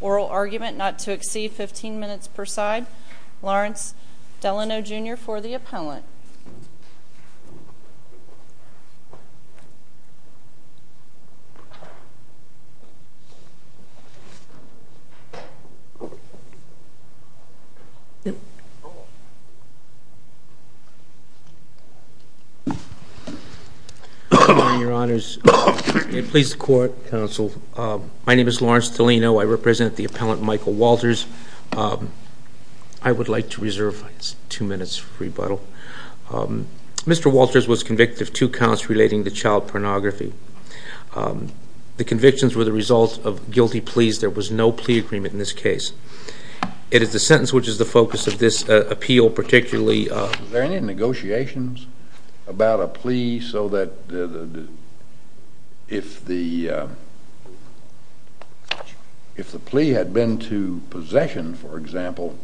oral argument not to exceed 15 minutes per side. Lawrence Delano Jr. for the appellant. My name is Lawrence Delano. I represent the appellant Michael Walters. I would like to reserve two minutes for rebuttal. Mr. Walters was convicted of two counts relating to child pornography. The convictions were the result of guilty pleas. There was no plea agreement in this case. It is the sentence which is the focus of this appeal in particular. I would like to reserve two minutes for rebuttal. Was there any negotiations about a plea so that if the plea had been to possession, for example, there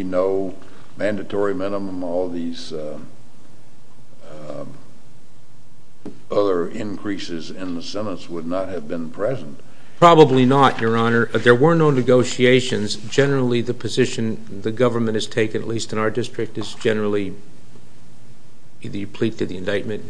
would be no mandatory minimum, all these other increases in the sentence would not have been present? Probably not, Your Honor. There were no negotiations. Generally, the position the government has taken, at least in our district, is generally the plea to the indictment.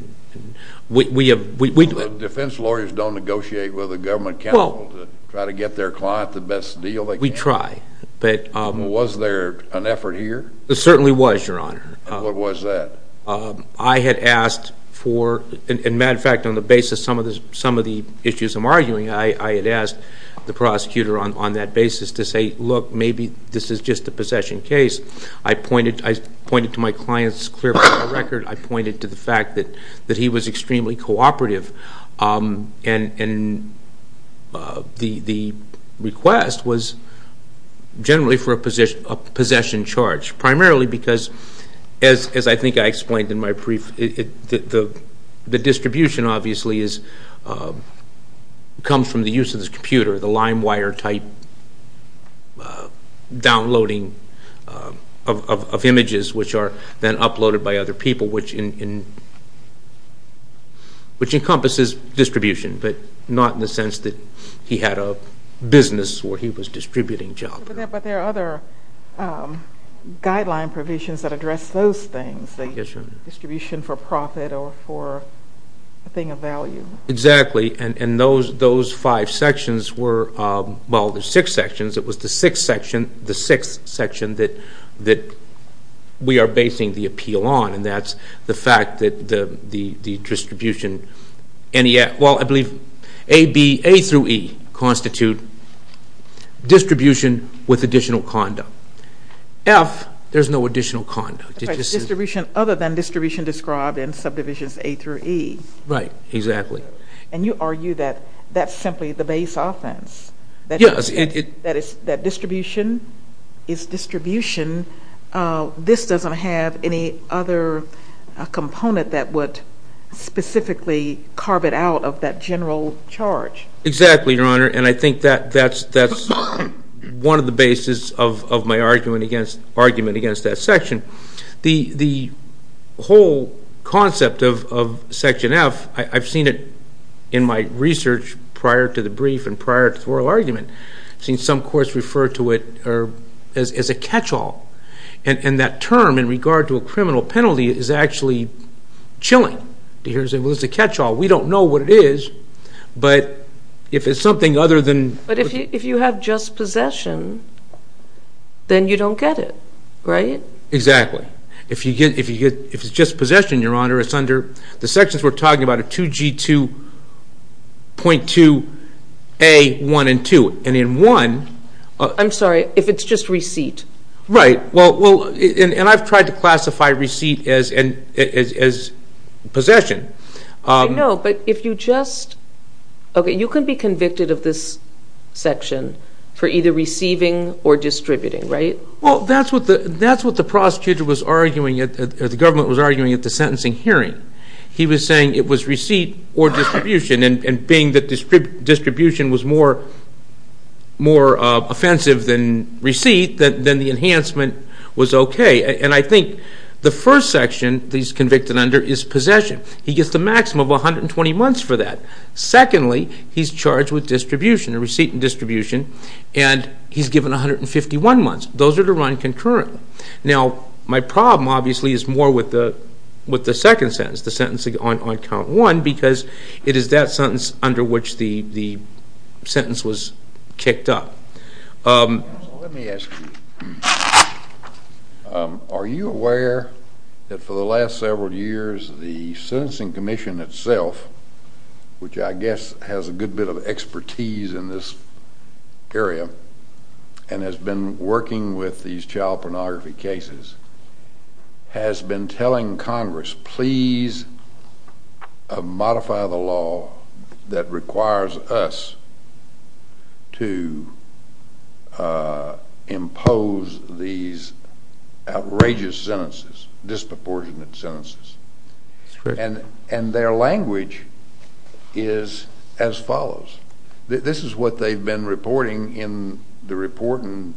Defense lawyers don't negotiate with the government counsel to try to get their client the best deal they can. We try. Was there an effort here? There certainly was, Your Honor. What was that? I had asked for, in matter of fact, on the basis of some of the issues I'm arguing, I had asked the prosecutor on that basis to say, look, maybe this is just a possession case. I pointed to my client's clear record. I pointed to the fact that he was extremely cooperative. The request was generally for a possession charge, primarily because, as I think I explained in my brief, the distribution obviously comes from the use of this computer, the LimeWire type downloading of images which are then uploaded by other people, which encompasses distribution, but not in the sense that he had a business where he was distributing jobs. But there are other guideline provisions that address those things, the distribution for profit or for a thing of value. Exactly. And those five sections were, well, there's six sections. It was the sixth section that we are basing the appeal on, and that's the fact that the distribution, well, I believe A through E constitute distribution with additional conduct. F, there's no additional conduct. Distribution other than distribution described in subdivisions A through E. Right. Exactly. And you argue that that's simply the base offense. Yes. That distribution is distribution. This doesn't have any other component that would specifically carve it out of that general charge. Exactly, Your Honor, and I think that's one of the bases of my argument against that section. The whole concept of Section F, I've seen it in my research prior to the brief and prior to the oral argument. I've seen some courts refer to it as a catch-all, and that term in regard to a criminal penalty is actually chilling. Here's a catch-all. We don't know what it is, but if it's something other than – But if you have just possession, then you don't get it, right? Exactly. If it's just possession, Your Honor, it's under – the sections we're talking about are 2G2.2A1 and 2. And in 1 – I'm sorry. If it's just receipt. Right. And I've tried to classify receipt as possession. No, but if you just – okay, you can be convicted of this section for either receiving or distributing, right? Well, that's what the prosecutor was arguing at – the government was arguing at the sentencing hearing. He was saying it was receipt or distribution, and being that distribution was more offensive than receipt, then the enhancement was okay. And I think the first section that he's convicted under is possession. He gets the maximum of 120 months for that. Secondly, he's charged with distribution, a receipt and distribution, and he's given 151 months. Those are to run concurrently. Now, my problem, obviously, is more with the second sentence, the sentence on count one, because it is that sentence under which the sentence was kicked up. Let me ask you. Are you aware that for the last several years the Sentencing Commission itself, which I guess has a good bit of expertise in this area and has been working with these child pornography cases, has been telling Congress, please modify the law that requires us to impose these outrageous sentences, disproportionate sentences? That's correct. And their language is as follows. This is what they've been reporting in the report in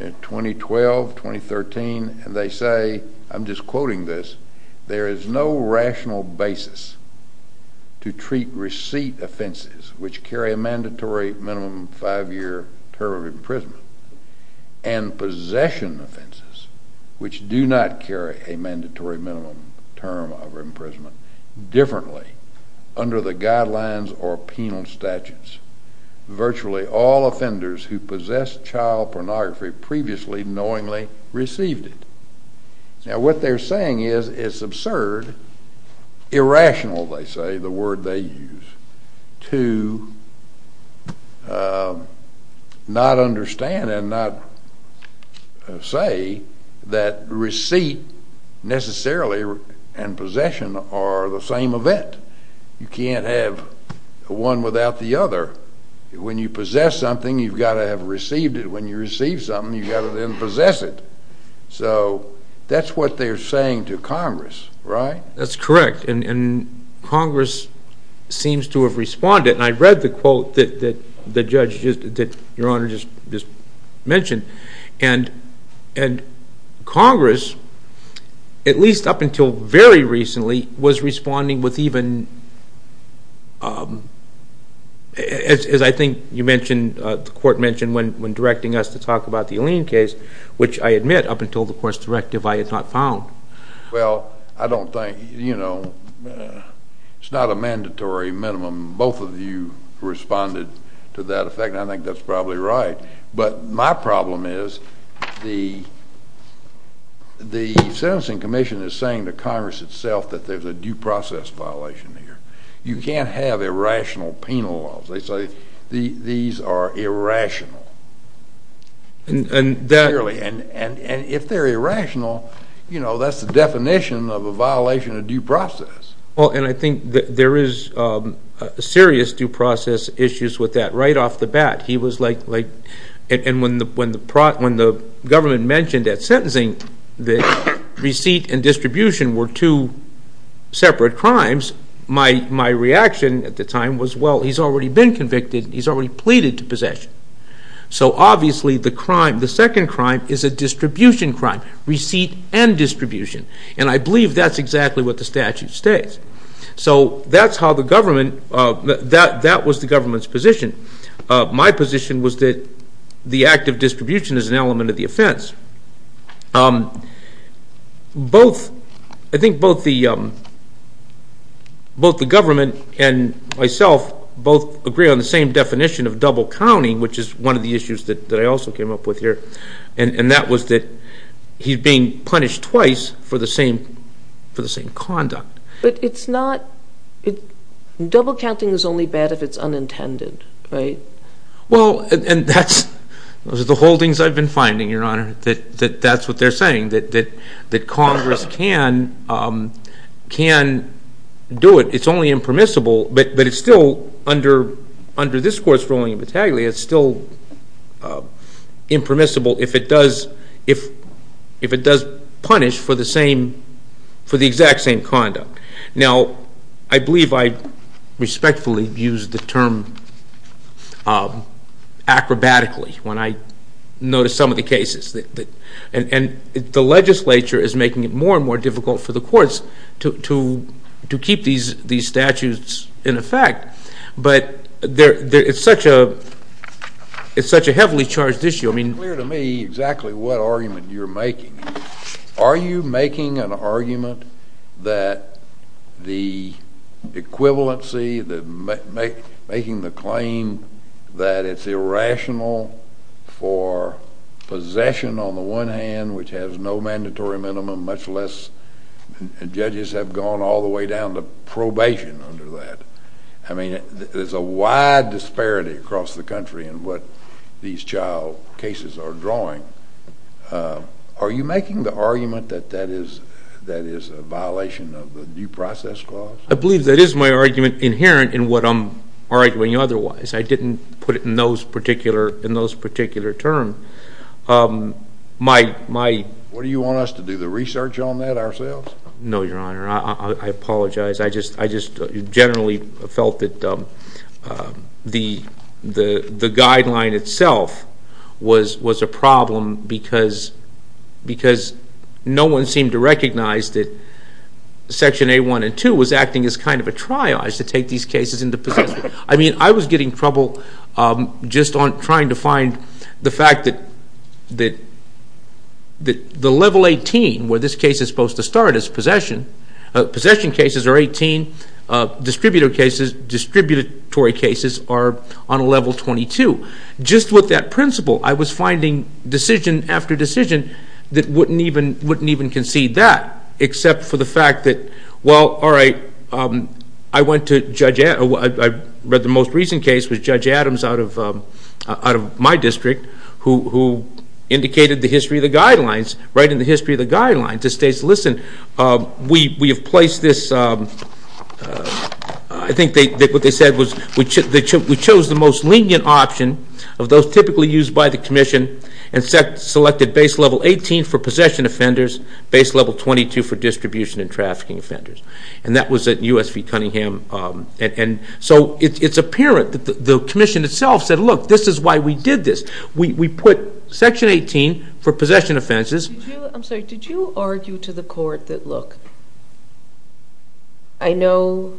2012, 2013, and they say – I'm just quoting this – there is no rational basis to treat receipt offenses, which carry a mandatory minimum five-year term of imprisonment, and possession offenses, which do not carry a mandatory minimum term of imprisonment, differently under the guidelines or penal statutes. Virtually all offenders who possess child pornography previously knowingly received it. Now, what they're saying is it's absurd, irrational, they say, the word they use, to not understand and not say that receipt necessarily and possession are the same event. You can't have one without the other. When you possess something, you've got to have received it. When you receive something, you've got to then possess it. So, that's what they're saying to Congress, right? That's correct. And Congress seems to have responded. And I read the quote that the judge – that Your Honor just mentioned. And Congress, at least up until very recently, was responding with even – as I think you mentioned, the court mentioned when directing us to talk about the Alene case, which I admit, up until the court's directive, I had not found. Well, I don't think – you know, it's not a mandatory minimum. Both of you responded to that effect, and I think that's probably right. But my problem is the sentencing commission is saying to Congress itself that there's a due process violation here. You can't have irrational penal laws. They say these are irrational. And if they're irrational, you know, that's the definition of a violation of due process. Well, and I think there is serious due process issues with that. Right off the bat, he was like – and when the government mentioned at sentencing that receipt and distribution were two separate crimes, my reaction at the time was, well, he's already been convicted. He's already pleaded to possession. So obviously the crime – the second crime is a distribution crime, receipt and distribution. And I believe that's exactly what the statute states. So that's how the government – that was the government's position. My position was that the act of distribution is an element of the offense. Both – I think both the government and myself both agree on the same definition of double counting, which is one of the issues that I also came up with here, and that was that he's being punished twice for the same conduct. But it's not – double counting is only bad if it's unintended, right? Well, and that's – those are the holdings I've been finding, Your Honor, that that's what they're saying, that Congress can do it. It's only impermissible, but it's still – under this Court's ruling, it's still impermissible if it does punish for the same – for the exact same conduct. Now, I believe I respectfully used the term acrobatically when I noticed some of the cases. And the legislature is making it more and more difficult for the courts to keep these statutes in effect. But it's such a heavily charged issue. It's unclear to me exactly what argument you're making. Are you making an argument that the equivalency, making the claim that it's irrational for possession on the one hand, which has no mandatory minimum, much less – and judges have gone all the way down to probation under that. I mean, there's a wide disparity across the country in what these child cases are drawing. Are you making the argument that that is a violation of the due process clause? I believe that is my argument inherent in what I'm arguing otherwise. I didn't put it in those particular – in those particular terms. My – What do you want us to do, the research on that ourselves? No, Your Honor. I apologize. I just generally felt that the guideline itself was a problem because no one seemed to recognize that Section A1 and 2 was acting as kind of a triage to take these cases into possession. I mean, I was getting trouble just on trying to find the fact that the level 18 where this case is supposed to start is possession. Possession cases are 18. Distributory cases are on a level 22. Just with that principle, I was finding decision after decision that wouldn't even concede that, except for the fact that, well, all right, I went to Judge – I read the most recent case with Judge Adams out of my district who indicated the history of the guidelines, right in the history of the guidelines. It states, listen, we have placed this – I think what they said was we chose the most lenient option of those typically used by the commission and selected Base Level 18 for possession offenders, Base Level 22 for distribution and trafficking offenders. And that was at U.S. v. Cunningham. And so it's apparent that the commission itself said, look, this is why we did this. We put Section 18 for possession offenses. I'm sorry. Did you argue to the court that, look, I know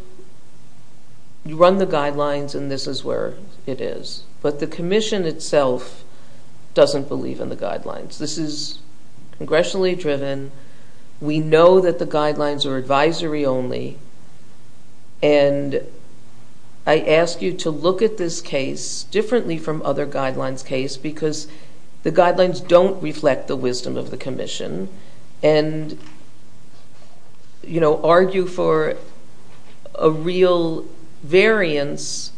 you run the guidelines and this is where it is, but the commission itself doesn't believe in the guidelines. This is congressionally driven. We know that the guidelines are advisory only. And I ask you to look at this case differently from other guidelines' case because the guidelines don't reflect the wisdom of the commission and, you know, argue for a real variance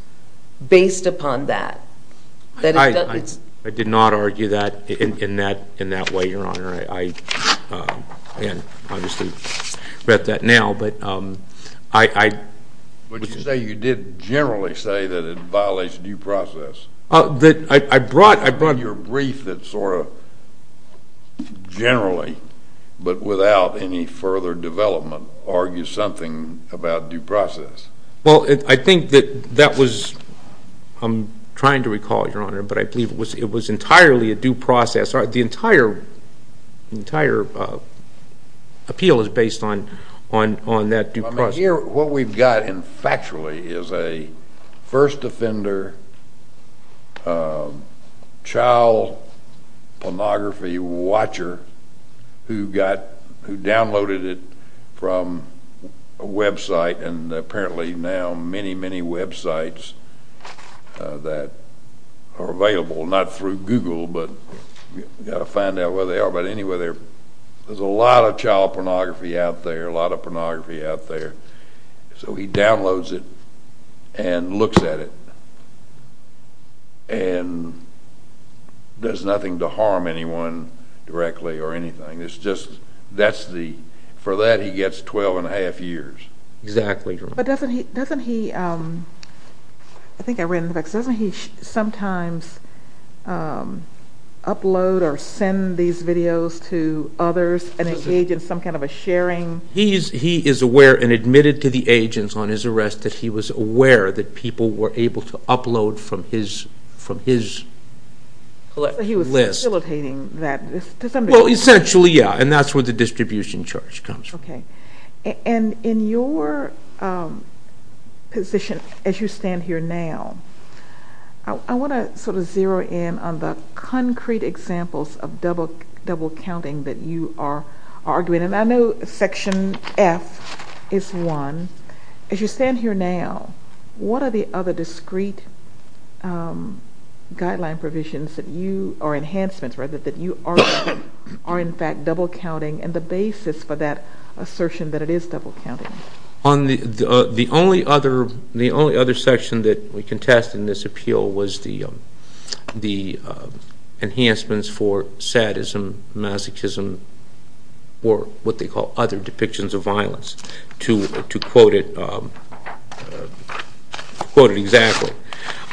based upon that. I did not argue that in that way, Your Honor. I obviously read that now, but I – But you say you did generally say that it violates due process. I brought your brief that sort of generally, but without any further development, argues something about due process. Well, I think that that was – I'm trying to recall, Your Honor, but I believe it was entirely a due process. The entire appeal is based on that due process. What we've got factually is a first offender child pornography watcher who downloaded it from a website and apparently now many, many websites that are available, not through Google, but you've got to find out where they are. But anyway, there's a lot of child pornography out there, a lot of pornography out there. So he downloads it and looks at it and does nothing to harm anyone directly or anything. It's just that's the – for that he gets 12 and a half years. Exactly, Your Honor. But doesn't he – I think I read in the facts – doesn't he sometimes upload or send these videos to others and engage in some kind of a sharing? He is aware and admitted to the agents on his arrest that he was aware that people were able to upload from his list. So he was facilitating that. Well, essentially, yeah, and that's where the distribution charge comes from. Okay. And in your position as you stand here now, I want to sort of zero in on the concrete examples of double-counting that you are arguing. And I know Section F is one. As you stand here now, what are the other discrete guideline provisions that you – or enhancements, rather, that you argue are in fact double-counting and the basis for that assertion that it is double-counting? The only other section that we contest in this appeal was the enhancements for sadism, masochism, or what they call other depictions of violence, to quote it exactly.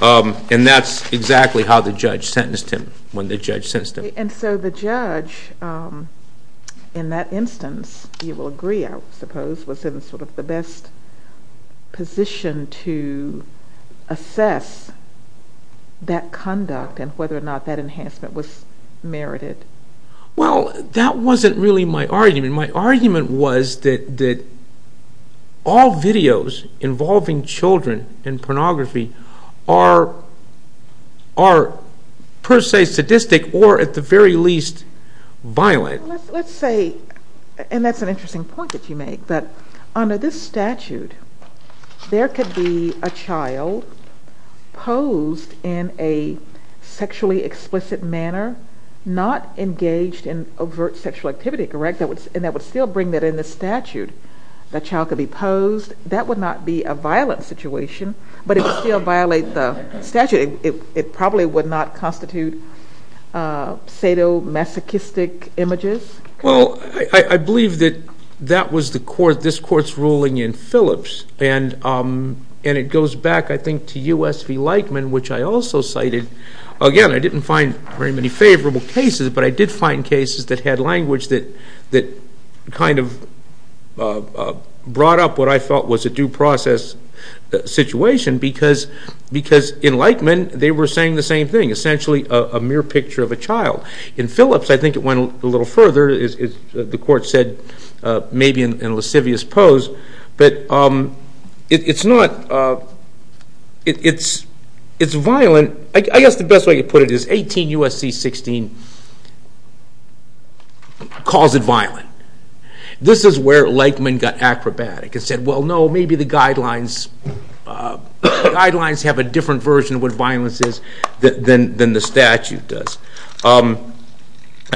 And that's exactly how the judge sentenced him, when the judge sentenced him. And so the judge, in that instance, you will agree, I suppose, was in sort of the best position to assess that conduct and whether or not that enhancement was merited. Well, that wasn't really my argument. My argument was that all videos involving children in pornography are per se sadistic or at the very least violent. Let's say – and that's an interesting point that you make – that under this statute, there could be a child posed in a sexually explicit manner, not engaged in overt sexual activity, correct? And that would still bring that in the statute. That child could be posed. That would not be a violent situation, but it would still violate the statute. It probably would not constitute sadomasochistic images. Well, I believe that that was the court – this court's ruling in Phillips. And it goes back, I think, to U.S. v. Lightman, which I also cited. Again, I didn't find very many favorable cases, but I did find cases that had language that kind of brought up what I felt was a due process situation because in Lightman, they were saying the same thing, essentially a mere picture of a child. In Phillips, I think it went a little further. The court said maybe in a lascivious pose, but it's not – it's violent. I guess the best way to put it is 18 U.S.C. 16 calls it violent. This is where Lightman got acrobatic and said, well, no, maybe the guidelines have a different version of what violence is than the statute does.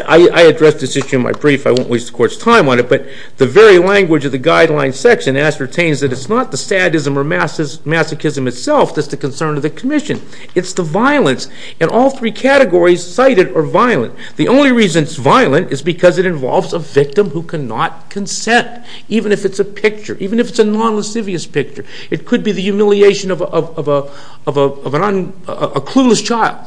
I addressed this issue in my brief. I won't waste the court's time on it, but the very language of the guidelines section ascertains that it's not the sadism or masochism itself that's the concern of the commission. It's the violence, and all three categories cited are violent. The only reason it's violent is because it involves a victim who cannot consent, even if it's a picture, even if it's a non-lascivious picture. It could be the humiliation of a clueless child,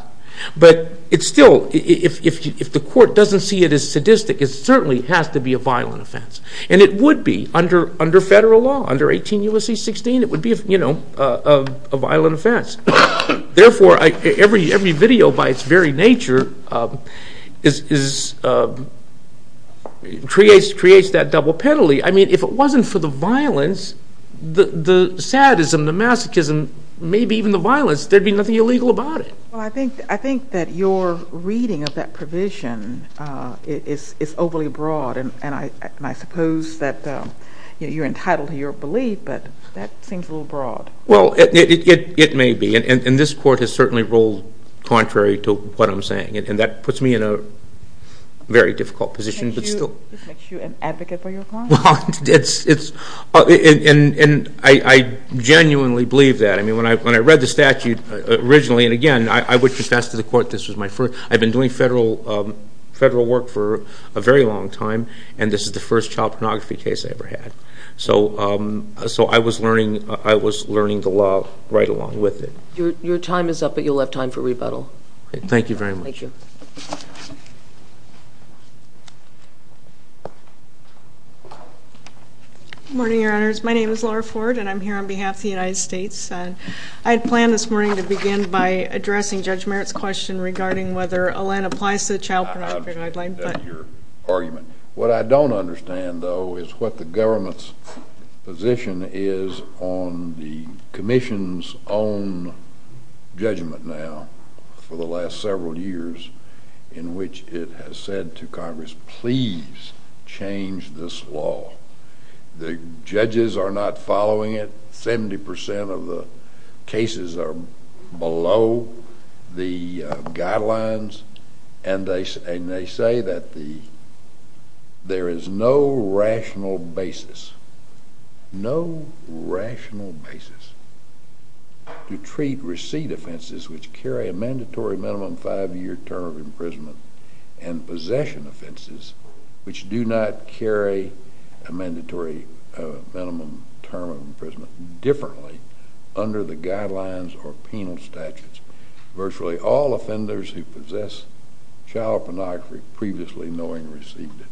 but it's still – if the court doesn't see it as sadistic, it certainly has to be a violent offense, and it would be under federal law, under 18 U.S.C. 16. It would be a violent offense. Therefore, every video by its very nature creates that double penalty. I mean, if it wasn't for the violence, the sadism, the masochism, maybe even the violence, there'd be nothing illegal about it. Well, I think that your reading of that provision is overly broad, and I suppose that you're entitled to your belief, but that seems a little broad. Well, it may be, and this court has certainly ruled contrary to what I'm saying, and that puts me in a very difficult position, but still – Does this make you an advocate for your client? Well, it's – and I genuinely believe that. I mean, when I read the statute originally, and again, I would confess to the court this was my first – I've been doing federal work for a very long time, and this is the first child pornography case I ever had. So I was learning the law right along with it. Your time is up, but you'll have time for rebuttal. Thank you very much. Thank you. Good morning, Your Honors. My name is Laura Ford, and I'm here on behalf of the United States. I had planned this morning to begin by addressing Judge Merritt's question regarding whether Olen applies to the Child Pornography Guideline, but – I understand your argument. What I don't understand, though, is what the government's position is on the commission's own judgment now for the last several years in which it has said to Congress, please change this law. The judges are not following it. Seventy percent of the cases are below the guidelines, and they say that there is no rational basis – and possession offenses which do not carry a mandatory minimum term of imprisonment differently under the guidelines or penal statutes. Virtually all offenders who possess child pornography previously knowing received it.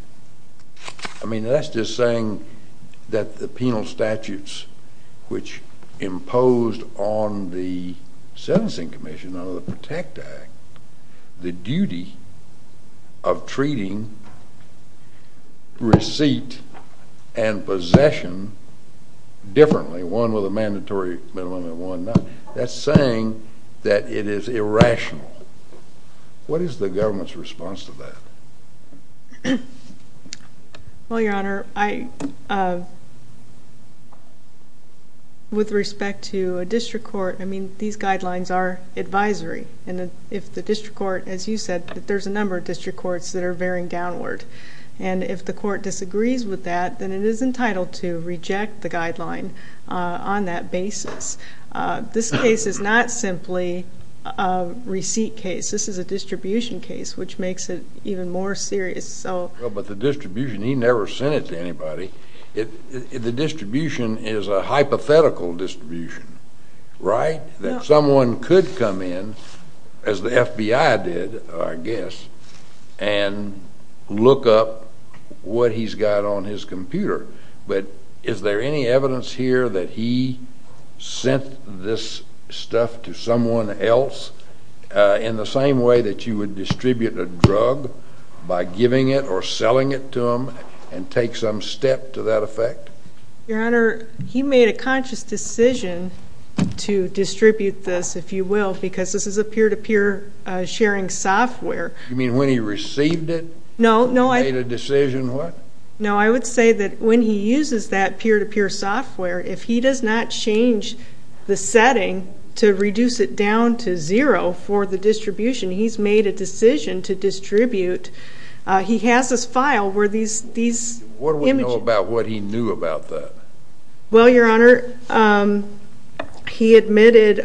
I mean, that's just saying that the penal statutes which imposed on the sentencing commission under the PROTECT Act, the duty of treating receipt and possession differently, one with a mandatory minimum and one not, that's saying that it is irrational. What is the government's response to that? Well, Your Honor, with respect to a district court, I mean, these guidelines are advisory. And if the district court, as you said, there's a number of district courts that are veering downward. And if the court disagrees with that, then it is entitled to reject the guideline on that basis. This case is not simply a receipt case. This is a distribution case, which makes it even more serious. But the distribution, he never sent it to anybody. The distribution is a hypothetical distribution, right? That someone could come in, as the FBI did, I guess, and look up what he's got on his computer. But is there any evidence here that he sent this stuff to someone else in the same way that you would distribute a drug by giving it or selling it to them and take some step to that effect? Your Honor, he made a conscious decision to distribute this, if you will, because this is a peer-to-peer sharing software. You mean when he received it, he made a decision what? No, I would say that when he uses that peer-to-peer software, if he does not change the setting to reduce it down to zero for the distribution, he's made a decision to distribute. He has this file where these images. What do we know about what he knew about that? Well, Your Honor, he admitted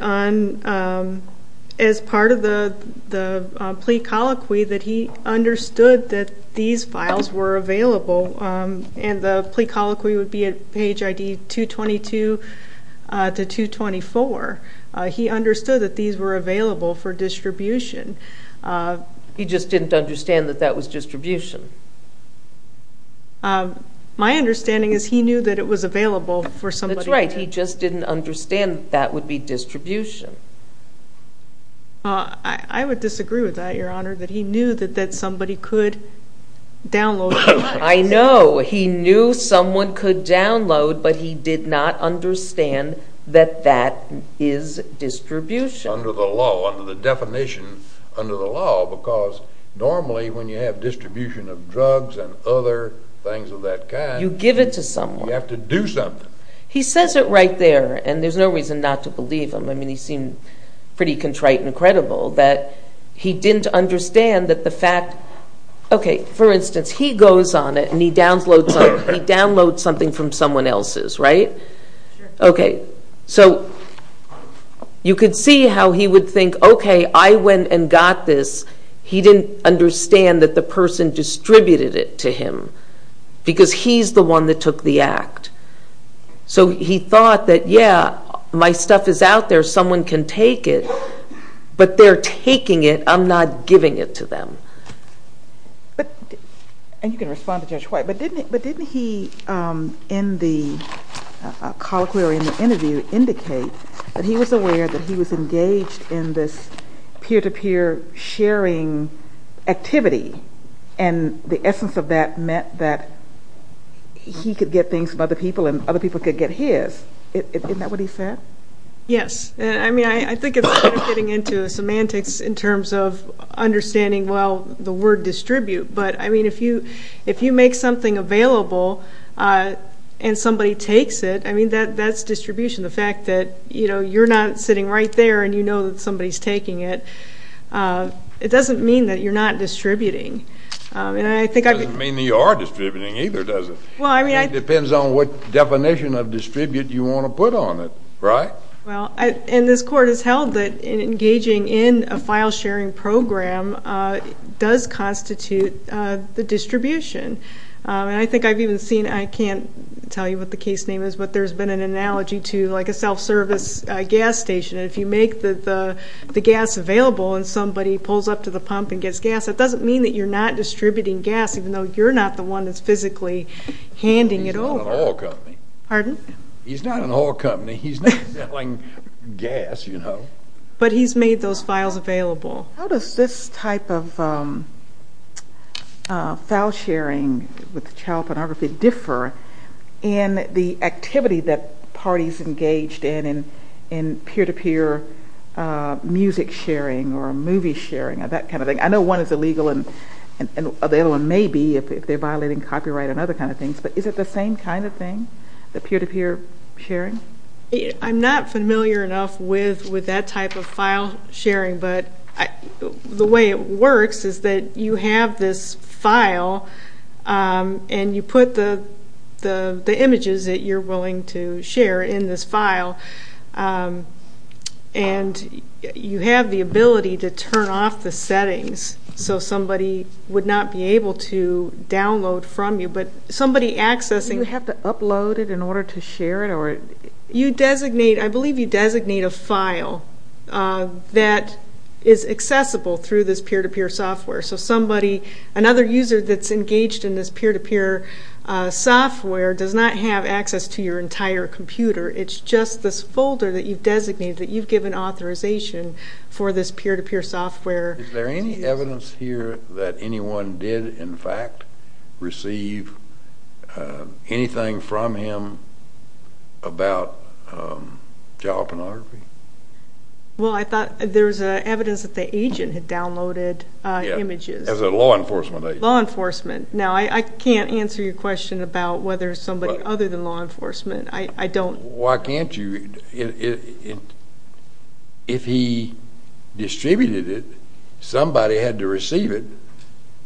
as part of the plea colloquy that he understood that these files were available, and the plea colloquy would be at page ID 222 to 224. He understood that these were available for distribution. He just didn't understand that that was distribution? My understanding is he knew that it was available for somebody else. That's right. He just didn't understand that that would be distribution. I would disagree with that, Your Honor, that he knew that somebody could download the files. I know. He knew someone could download, but he did not understand that that is distribution. Under the law, under the definition under the law, because normally when you have distribution of drugs and other things of that kind. You give it to someone. You have to do something. He says it right there, and there's no reason not to believe him. I mean, he seemed pretty contrite and credible that he didn't understand that the fact, okay, for instance, he goes on it, and he downloads something from someone else's, right? Sure. Okay, so you could see how he would think, okay, I went and got this. He didn't understand that the person distributed it to him because he's the one that took the act. So he thought that, yeah, my stuff is out there. Someone can take it, but they're taking it. I'm not giving it to them. And you can respond to Judge White, but didn't he in the colloquy or in the interview indicate that he was aware that he was engaged in this peer-to-peer sharing activity, and the essence of that meant that he could get things from other people and other people could get his? Isn't that what he said? Yes. I mean, I think it's getting into semantics in terms of understanding, well, the word distribute. But, I mean, if you make something available and somebody takes it, I mean, that's distribution. The fact that you're not sitting right there and you know that somebody's taking it, it doesn't mean that you're not distributing. It doesn't mean that you are distributing either, does it? It depends on what definition of distribute you want to put on it, right? Well, and this court has held that engaging in a file-sharing program does constitute the distribution. And I think I've even seen, I can't tell you what the case name is, but there's been an analogy to like a self-service gas station. If you make the gas available and somebody pulls up to the pump and gets gas, that doesn't mean that you're not distributing gas, even though you're not the one that's physically handing it over. He's not an oil company. Pardon? He's not an oil company. He's not selling gas, you know. But he's made those files available. How does this type of file-sharing with child pornography differ in the activity that parties engaged in, in peer-to-peer music sharing or movie sharing, that kind of thing? I know one is illegal and the other one may be if they're violating copyright and other kind of things, but is it the same kind of thing, the peer-to-peer sharing? I'm not familiar enough with that type of file-sharing, but the way it works is that you have this file and you put the images that you're willing to share in this file, and you have the ability to turn off the settings so somebody would not be able to download from you, but somebody accessing it. Do you have to upload it in order to share it? I believe you designate a file that is accessible through this peer-to-peer software, so another user that's engaged in this peer-to-peer software does not have access to your entire computer. It's just this folder that you've designated, that you've given authorization for this peer-to-peer software. Is there any evidence here that anyone did, in fact, receive anything from him about child pornography? Well, I thought there was evidence that the agent had downloaded images. Yeah, as a law enforcement agent. Law enforcement. Now, I can't answer your question about whether it's somebody other than law enforcement. Why can't you? If he distributed it, somebody had to receive it.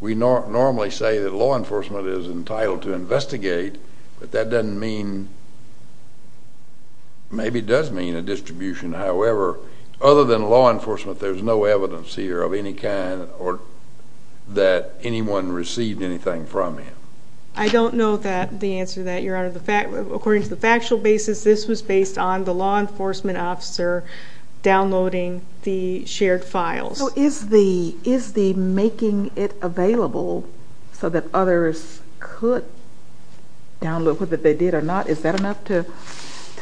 We normally say that law enforcement is entitled to investigate, but that doesn't mean, maybe it does mean a distribution. However, other than law enforcement, there's no evidence here of any kind that anyone received anything from him. I don't know the answer to that, Your Honor. According to the factual basis, this was based on the law enforcement officer downloading the shared files. So is the making it available so that others could download what they did or not, is that enough to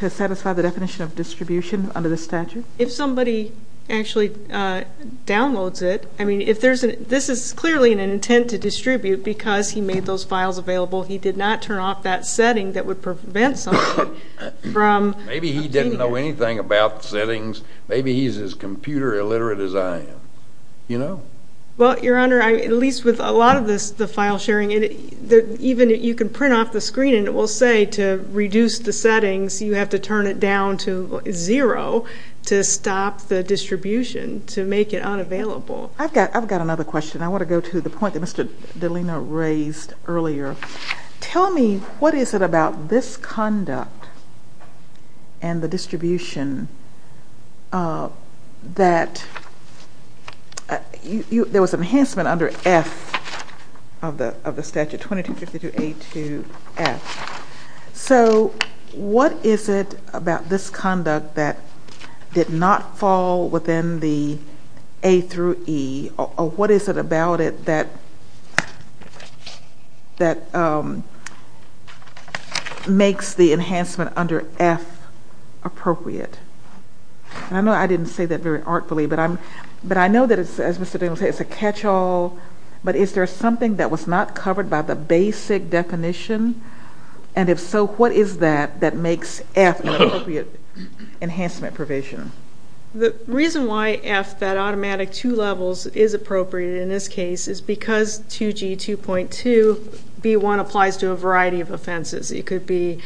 satisfy the definition of distribution under the statute? If somebody actually downloads it, I mean, this is clearly an intent to distribute because he made those files available. He did not turn off that setting that would prevent somebody from obtaining it. Maybe he didn't know anything about settings. Maybe he's as computer illiterate as I am, you know? Well, Your Honor, at least with a lot of the file sharing, even you can print off the screen and it will say to reduce the settings, you have to turn it down to zero to stop the distribution, to make it unavailable. I've got another question. I want to go to the point that Mr. Delina raised earlier. Tell me what is it about this conduct and the distribution that there was an enhancement under F of the statute, 2252A2F. So what is it about this conduct that did not fall within the A through E, or what is it about it that makes the enhancement under F appropriate? I know I didn't say that very artfully, but I know that, as Mr. Daniel said, it's a catch-all, but is there something that was not covered by the basic definition? And if so, what is that that makes F an appropriate enhancement provision? The reason why F, that automatic two levels, is appropriate in this case is because 2G2.2B1 applies to a variety of offenses. It could be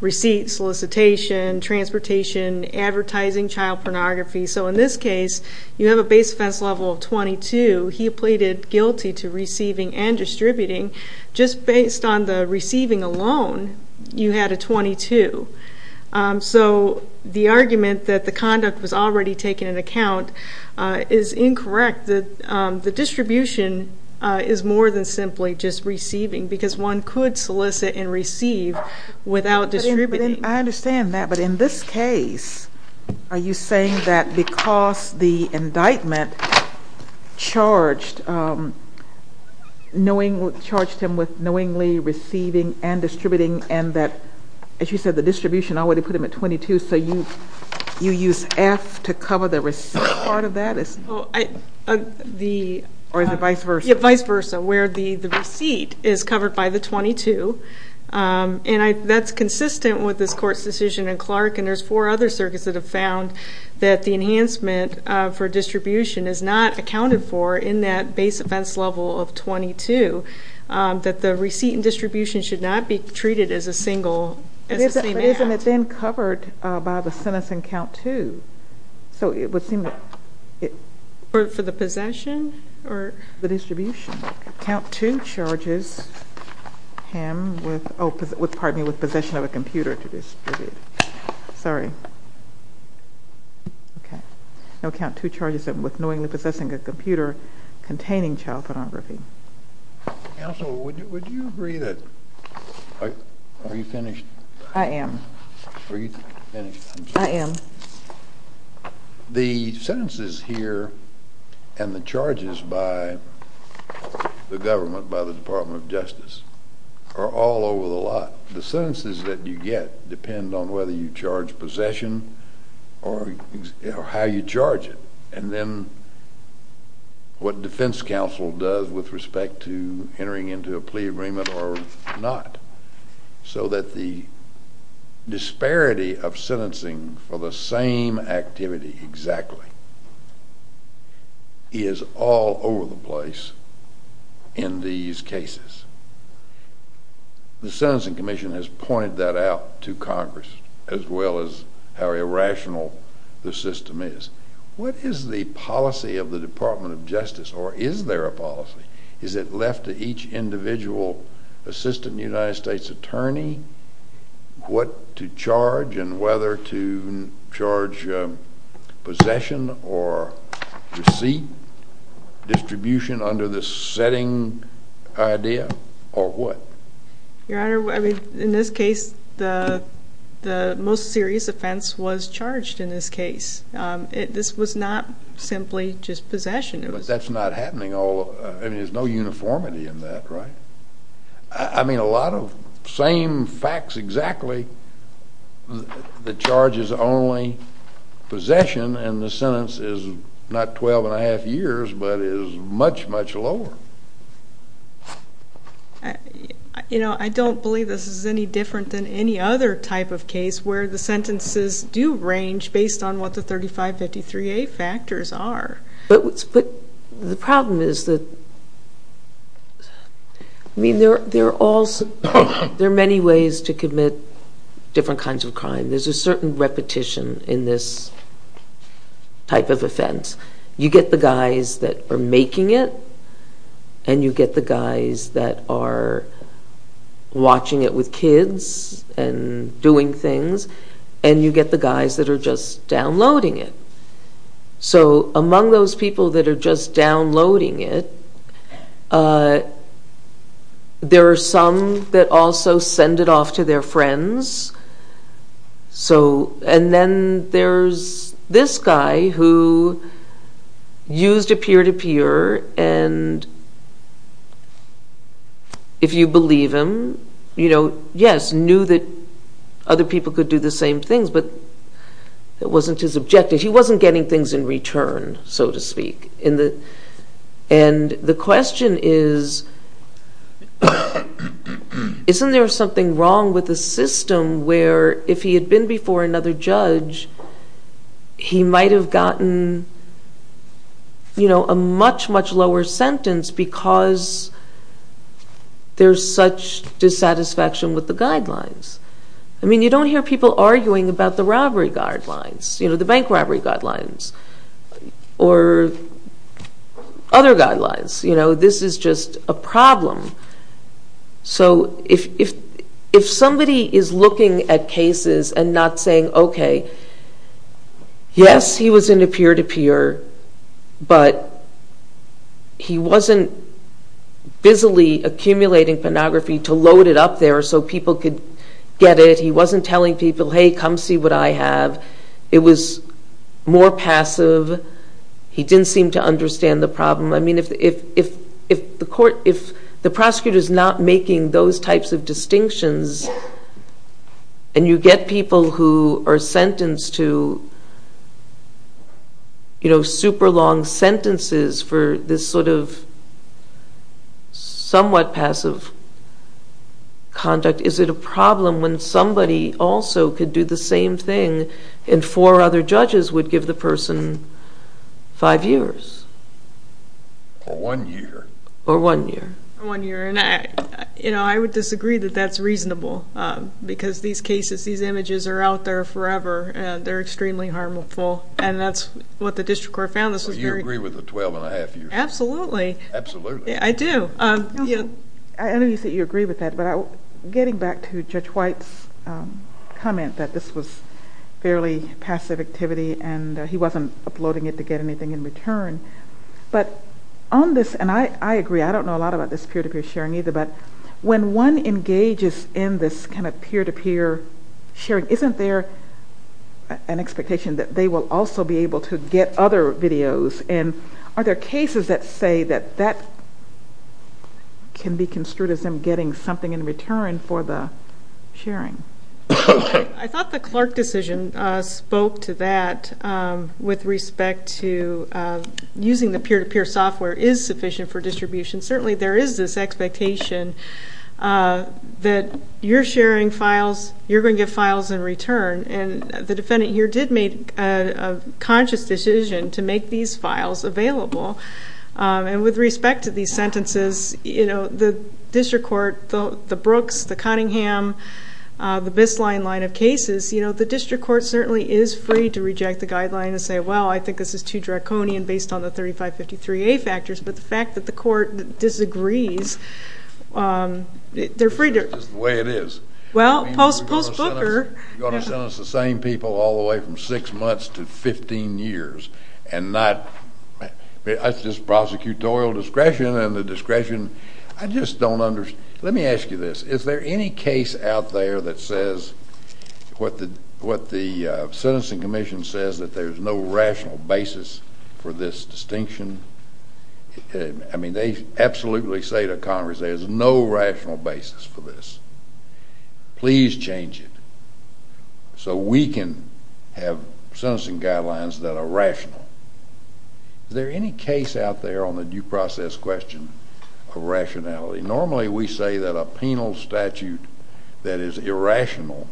receipts, solicitation, transportation, advertising, child pornography. So in this case, you have a base offense level of 22. He pleaded guilty to receiving and distributing. Just based on the receiving alone, you had a 22. So the argument that the conduct was already taken into account is incorrect. The distribution is more than simply just receiving because one could solicit and receive without distributing. I understand that, but in this case, are you saying that because the indictment charged him with knowingly receiving and distributing and that, as you said, the distribution already put him at 22, so you use F to cover the receipt part of that? Yeah, vice versa, where the receipt is covered by the 22. And that's consistent with this court's decision in Clark, and there's four other circuits that have found that the enhancement for distribution is not accounted for in that base offense level of 22, that the receipt and distribution should not be treated as a single, as the same act. But isn't it then covered by the sentencing count too? So it would seem that it... For the possession? The distribution. Count two charges him with possession of a computer to distribute. Sorry. Okay. Now count two charges him with knowingly possessing a computer containing child photography. Counsel, would you agree that... Are you finished? I am. Are you finished? I am. The sentences here and the charges by the government, by the Department of Justice, are all over the lot. The sentences that you get depend on whether you charge possession or how you charge it, and then what defense counsel does with respect to entering into a plea agreement or not, so that the disparity of sentencing for the same activity exactly is all over the place in these cases. The Sentencing Commission has pointed that out to Congress, as well as how irrational the system is. What is the policy of the Department of Justice, or is there a policy? Is it left to each individual assistant United States attorney what to charge and whether to charge possession or receipt, distribution under the setting idea, or what? Your Honor, in this case, the most serious offense was charged in this case. This was not simply just possession. But that's not happening. I mean, there's no uniformity in that, right? I mean, a lot of same facts exactly. The charge is only possession, and the sentence is not 12 1⁄2 years, but is much, much lower. You know, I don't believe this is any different than any other type of case where the sentences do range based on what the 3553A factors are. But the problem is that, I mean, there are many ways to commit different kinds of crime. There's a certain repetition in this type of offense. You get the guys that are making it, and you get the guys that are watching it with kids and doing things, and you get the guys that are just downloading it. So among those people that are just downloading it, there are some that also send it off to their friends. And then there's this guy who used a peer-to-peer, and if you believe him, you know, yes, knew that other people could do the same things, but it wasn't his objective. He wasn't getting things in return, so to speak. And the question is, isn't there something wrong with the system where if he had been before another judge, he might have gotten, you know, a much, much lower sentence because there's such dissatisfaction with the guidelines? I mean, you don't hear people arguing about the robbery guidelines. You know, the bank robbery guidelines or other guidelines. You know, this is just a problem. So if somebody is looking at cases and not saying, okay, yes, he was in a peer-to-peer, but he wasn't busily accumulating pornography to load it up there so people could get it. He wasn't telling people, hey, come see what I have. It was more passive. He didn't seem to understand the problem. I mean, if the court, if the prosecutor is not making those types of distinctions and you get people who are sentenced to, you know, super long sentences for this sort of somewhat passive conduct, is it a problem when somebody also could do the same thing and four other judges would give the person five years? Or one year. Or one year. Or one year, and, you know, I would disagree that that's reasonable because these cases, these images are out there forever, and they're extremely harmful, and that's what the district court found. Do you agree with the 12-and-a-half years? Absolutely. Absolutely. I do. I know you say you agree with that, but getting back to Judge White's comment that this was fairly passive activity and he wasn't uploading it to get anything in return, but on this, and I agree, I don't know a lot about this peer-to-peer sharing either, but when one engages in this kind of peer-to-peer sharing, isn't there an expectation that they will also be able to get other videos, and are there cases that say that that can be construed as them getting something in return for the sharing? I thought the Clark decision spoke to that with respect to using the peer-to-peer software is sufficient for distribution. Certainly there is this expectation that you're sharing files, you're going to get files in return, and the defendant here did make a conscious decision to make these files available. And with respect to these sentences, the district court, the Brooks, the Cunningham, the Bistline line of cases, the district court certainly is free to reject the guideline and say, well, I think this is too draconian based on the 3553A factors, but the fact that the court disagrees, they're free to. That's just the way it is. Well, post Booker. You're going to sentence the same people all the way from six months to 15 years, and not just prosecutorial discretion and the discretion. I just don't understand. Let me ask you this. Is there any case out there that says what the sentencing commission says, that there's no rational basis for this distinction? I mean, they absolutely say to Congress there's no rational basis for this. Please change it so we can have sentencing guidelines that are rational. Is there any case out there on the due process question of rationality? Normally we say that a penal statute that is irrational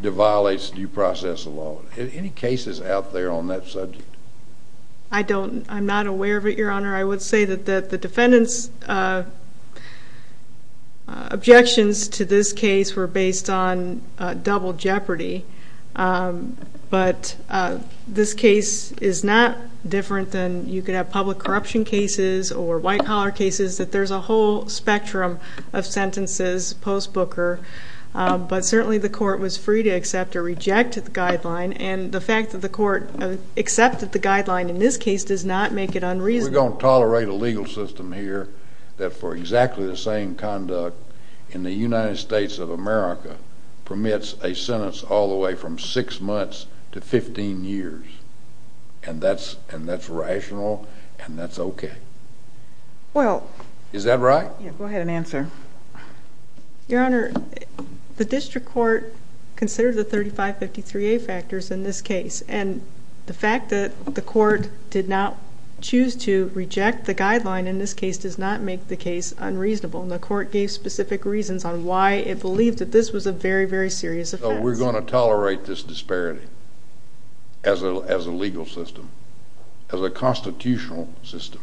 violates due process law. Any cases out there on that subject? I'm not aware of it, Your Honor. I would say that the defendant's objections to this case were based on double jeopardy. But this case is not different than you could have public corruption cases or white collar cases, that there's a whole spectrum of sentences post Booker. But certainly the court was free to accept or reject the guideline, and the fact that the court accepted the guideline in this case does not make it unreasonable. We're going to tolerate a legal system here that for exactly the same conduct in the United States of America permits a sentence all the way from six months to 15 years. And that's rational, and that's okay. Is that right? Go ahead and answer. Your Honor, the district court considered the 3553A factors in this case, and the fact that the court did not choose to reject the guideline in this case does not make the case unreasonable, and the court gave specific reasons on why it believed that this was a very, very serious offense. So we're going to tolerate this disparity as a legal system, as a constitutional system.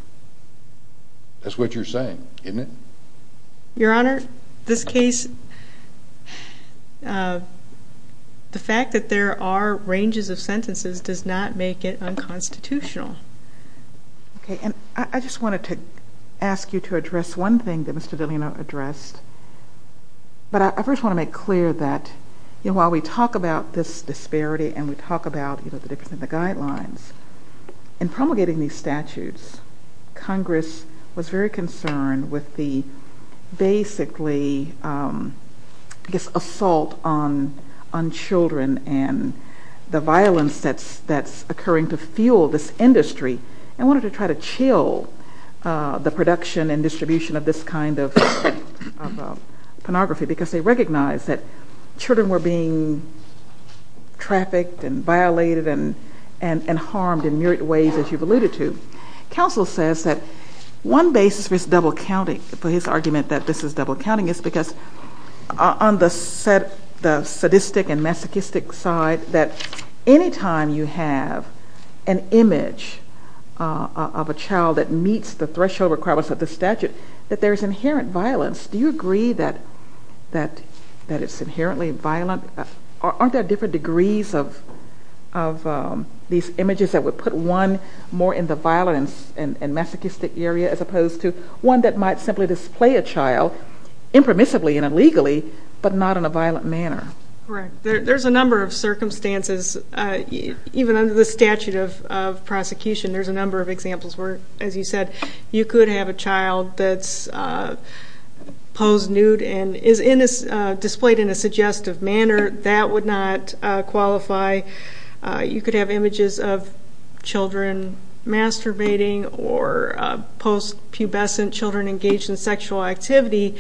That's what you're saying, isn't it? Your Honor, this case, the fact that there are ranges of sentences does not make it unconstitutional. Okay, and I just wanted to ask you to address one thing that Mr. Delano addressed. But I first want to make clear that while we talk about this disparity and we talk about the difference in the guidelines, in promulgating these statutes, Congress was very concerned with the basically assault on children and the violence that's occurring to fuel this industry and wanted to try to chill the production and distribution of this kind of pornography because they recognized that children were being trafficked and violated and harmed in myriad ways, as you've alluded to. Counsel says that one basis for his argument that this is double-counting is because on the sadistic and masochistic side, that any time you have an image of a child that meets the threshold requirements of the statute, that there's inherent violence. Do you agree that it's inherently violent? Aren't there different degrees of these images that would put one more in the violence and masochistic area as opposed to one that might simply display a child, impermissibly and illegally, but not in a violent manner? There's a number of circumstances. Even under the statute of prosecution, there's a number of examples where, as you said, you could have a child that's posed nude and is displayed in a suggestive manner. That would not qualify. You could have images of children masturbating or post-pubescent children engaged in sexual activity.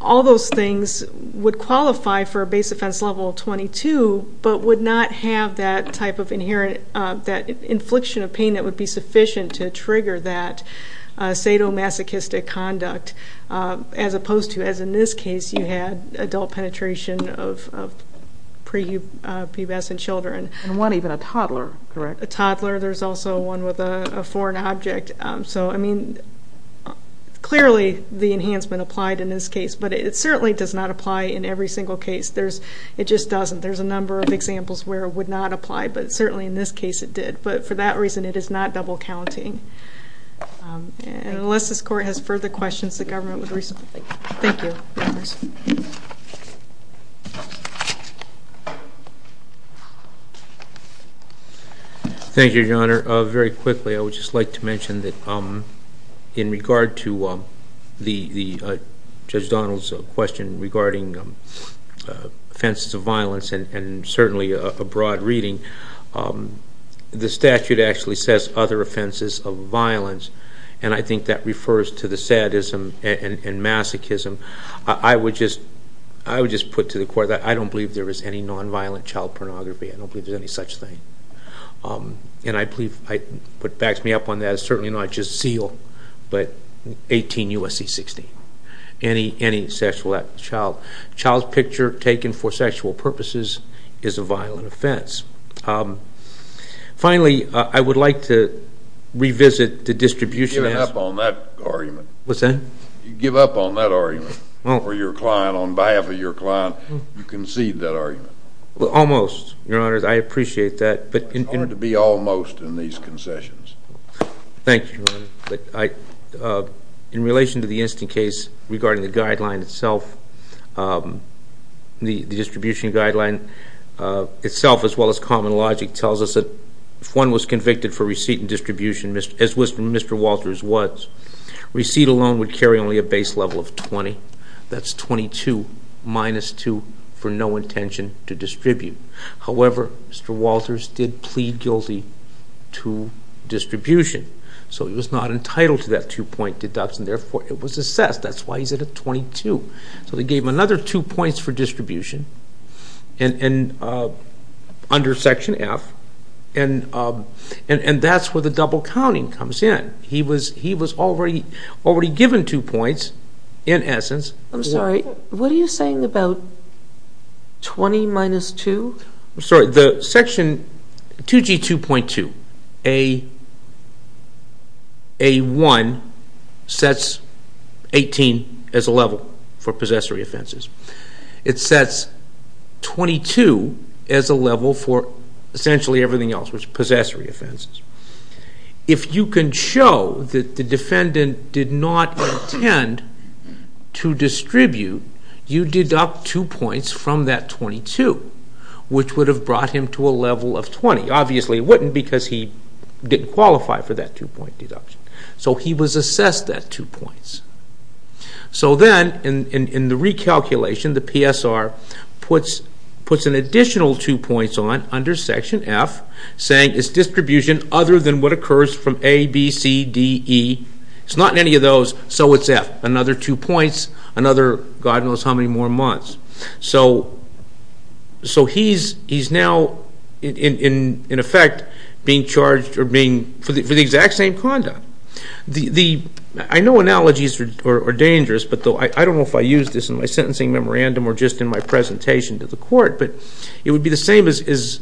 All those things would qualify for a base offense level 22 but would not have that type of infliction of pain that would be sufficient to trigger that sadomasochistic conduct as opposed to, as in this case, you had adult penetration of pubescent children. And one, even a toddler, correct? A toddler. There's also one with a foreign object. So, I mean, clearly the enhancement applied in this case, but it certainly does not apply in every single case. It just doesn't. There's a number of examples where it would not apply, but certainly in this case it did. But for that reason, it is not double counting. Unless this Court has further questions, the government would respond. Thank you. Thank you, Your Honor. I would just like to mention that in regard to Judge Donald's question regarding offenses of violence and certainly a broad reading, the statute actually says other offenses of violence, and I think that refers to the sadism and masochism. I would just put to the Court that I don't believe there is any nonviolent child pornography. I don't believe there's any such thing. And I believe what backs me up on that is certainly not just SEAL, but 18 U.S.C. 16. Any sexual child's picture taken for sexual purposes is a violent offense. Finally, I would like to revisit the distribution of the statute. You give up on that argument. What's that? You give up on that argument. For your client, on behalf of your client, you concede that argument. Almost, Your Honor. I appreciate that. It's going to be almost in these concessions. Thank you, Your Honor. In relation to the instant case regarding the guideline itself, the distribution guideline itself, as well as common logic, tells us that if one was convicted for receipt and distribution, as was from Mr. Walters' words, receipt alone would carry only a base level of 20. That's 22 minus 2 for no intention to distribute. However, Mr. Walters did plead guilty to distribution. So he was not entitled to that two-point deduction. Therefore, it was assessed. That's why he's at a 22. So they gave him another two points for distribution under Section F, and that's where the double counting comes in. He was already given two points, in essence. I'm sorry. What are you saying about 20 minus 2? I'm sorry. Section 2G2.2A1 sets 18 as a level for possessory offenses. It sets 22 as a level for essentially everything else, which is possessory offenses. If you can show that the defendant did not intend to distribute, you deduct two points from that 22, which would have brought him to a level of 20. Obviously, it wouldn't because he didn't qualify for that two-point deduction. So he was assessed that two points. So then, in the recalculation, the PSR puts an additional two points on under Section F, saying it's distribution other than what occurs from A, B, C, D, E. It's not in any of those, so it's F. Another two points, another God knows how many more months. So he's now, in effect, being charged for the exact same conduct. I know analogies are dangerous, but I don't know if I used this in my sentencing memorandum or just in my presentation to the court, but it would be the same as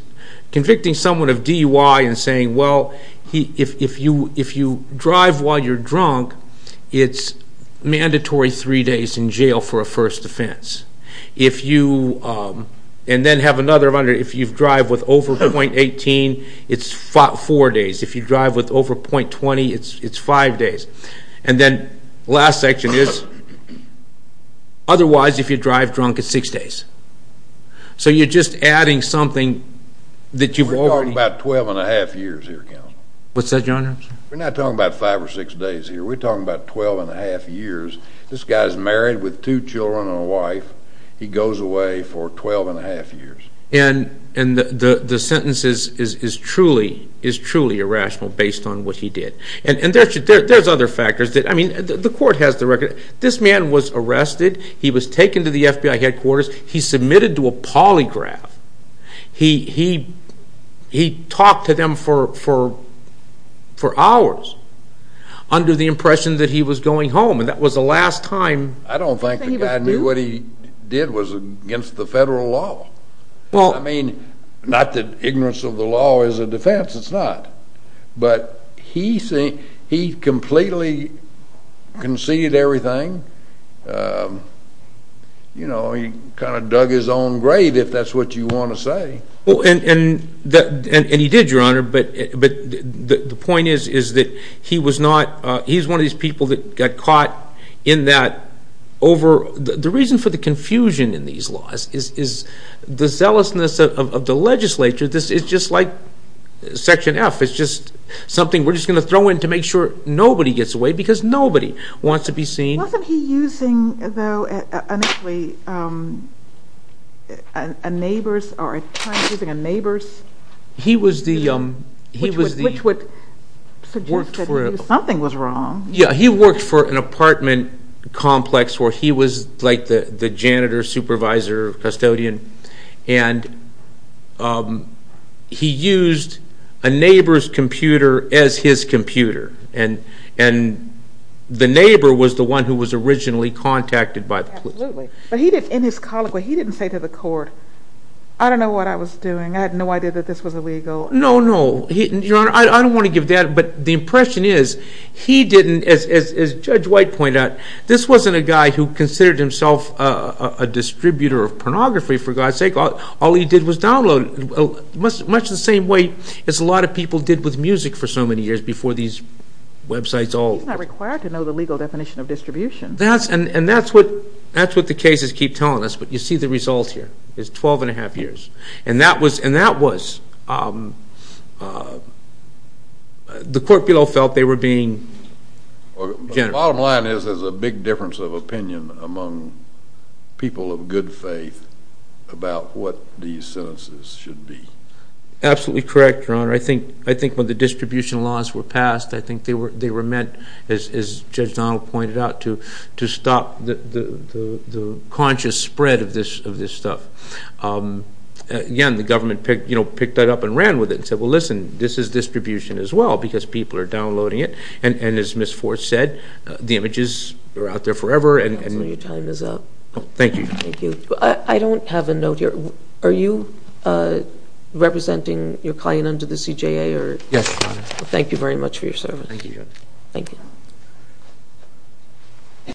convicting someone of DUI and saying, well, if you drive while you're drunk, it's mandatory three days in jail for a first offense. If you drive with over .18, it's four days. If you drive with over .20, it's five days. And then the last section is, otherwise, if you drive drunk, it's six days. So you're just adding something that you've already... We're talking about 12 1⁄2 years here, counsel. What's that, Your Honor? We're not talking about five or six days here. We're talking about 12 1⁄2 years. This guy's married with two children and a wife. He goes away for 12 1⁄2 years. And the sentence is truly irrational based on what he did. And there's other factors. I mean, the court has the record. This man was arrested. He was taken to the FBI headquarters. He submitted to a polygraph. He talked to them for hours under the impression that he was going home, and that was the last time. I don't think the guy knew what he did was against the federal law. I mean, not that ignorance of the law is a defense. It's not. But he completely conceded everything. You know, he kind of dug his own grave, if that's what you want to say. And he did, Your Honor. But the point is that he was one of these people that got caught in that over... The reason for the confusion in these laws is the zealousness of the legislature. It's just like Section F. It's just something we're just going to throw in to make sure nobody gets away because nobody wants to be seen. Wasn't he using, though, initially a neighbor's or at times using a neighbor's? He was the... Which would suggest that something was wrong. Yeah, he worked for an apartment complex where he was like the janitor, supervisor, custodian. And he used a neighbor's computer as his computer. And the neighbor was the one who was originally contacted by the police. Absolutely. But in his colloquy, he didn't say to the court, I don't know what I was doing. I had no idea that this was illegal. No, no. Your Honor, I don't want to give that. But the impression is he didn't, as Judge White pointed out, this wasn't a guy who considered himself a distributor of pornography, for God's sake. All he did was download, much the same way as a lot of people did with music for so many years before these websites all... He's not required to know the legal definition of distribution. And that's what the cases keep telling us. But you see the results here. It's 12 1⁄2 years. And that was... The court below felt they were being generous. The bottom line is there's a big difference of opinion among people of good faith about what these sentences should be. Absolutely correct, Your Honor. I think when the distribution laws were passed, I think they were meant, as Judge Donald pointed out, to stop the conscious spread of this stuff. Again, the government picked that up and ran with it and said, well, listen, this is distribution as well because people are downloading it. And as Ms. Forth said, the images are out there forever. Your time is up. Thank you. Thank you. I don't have a note here. Are you representing your client under the CJA? Yes, Your Honor. Thank you very much for your service. Thank you, Your Honor. Thank you.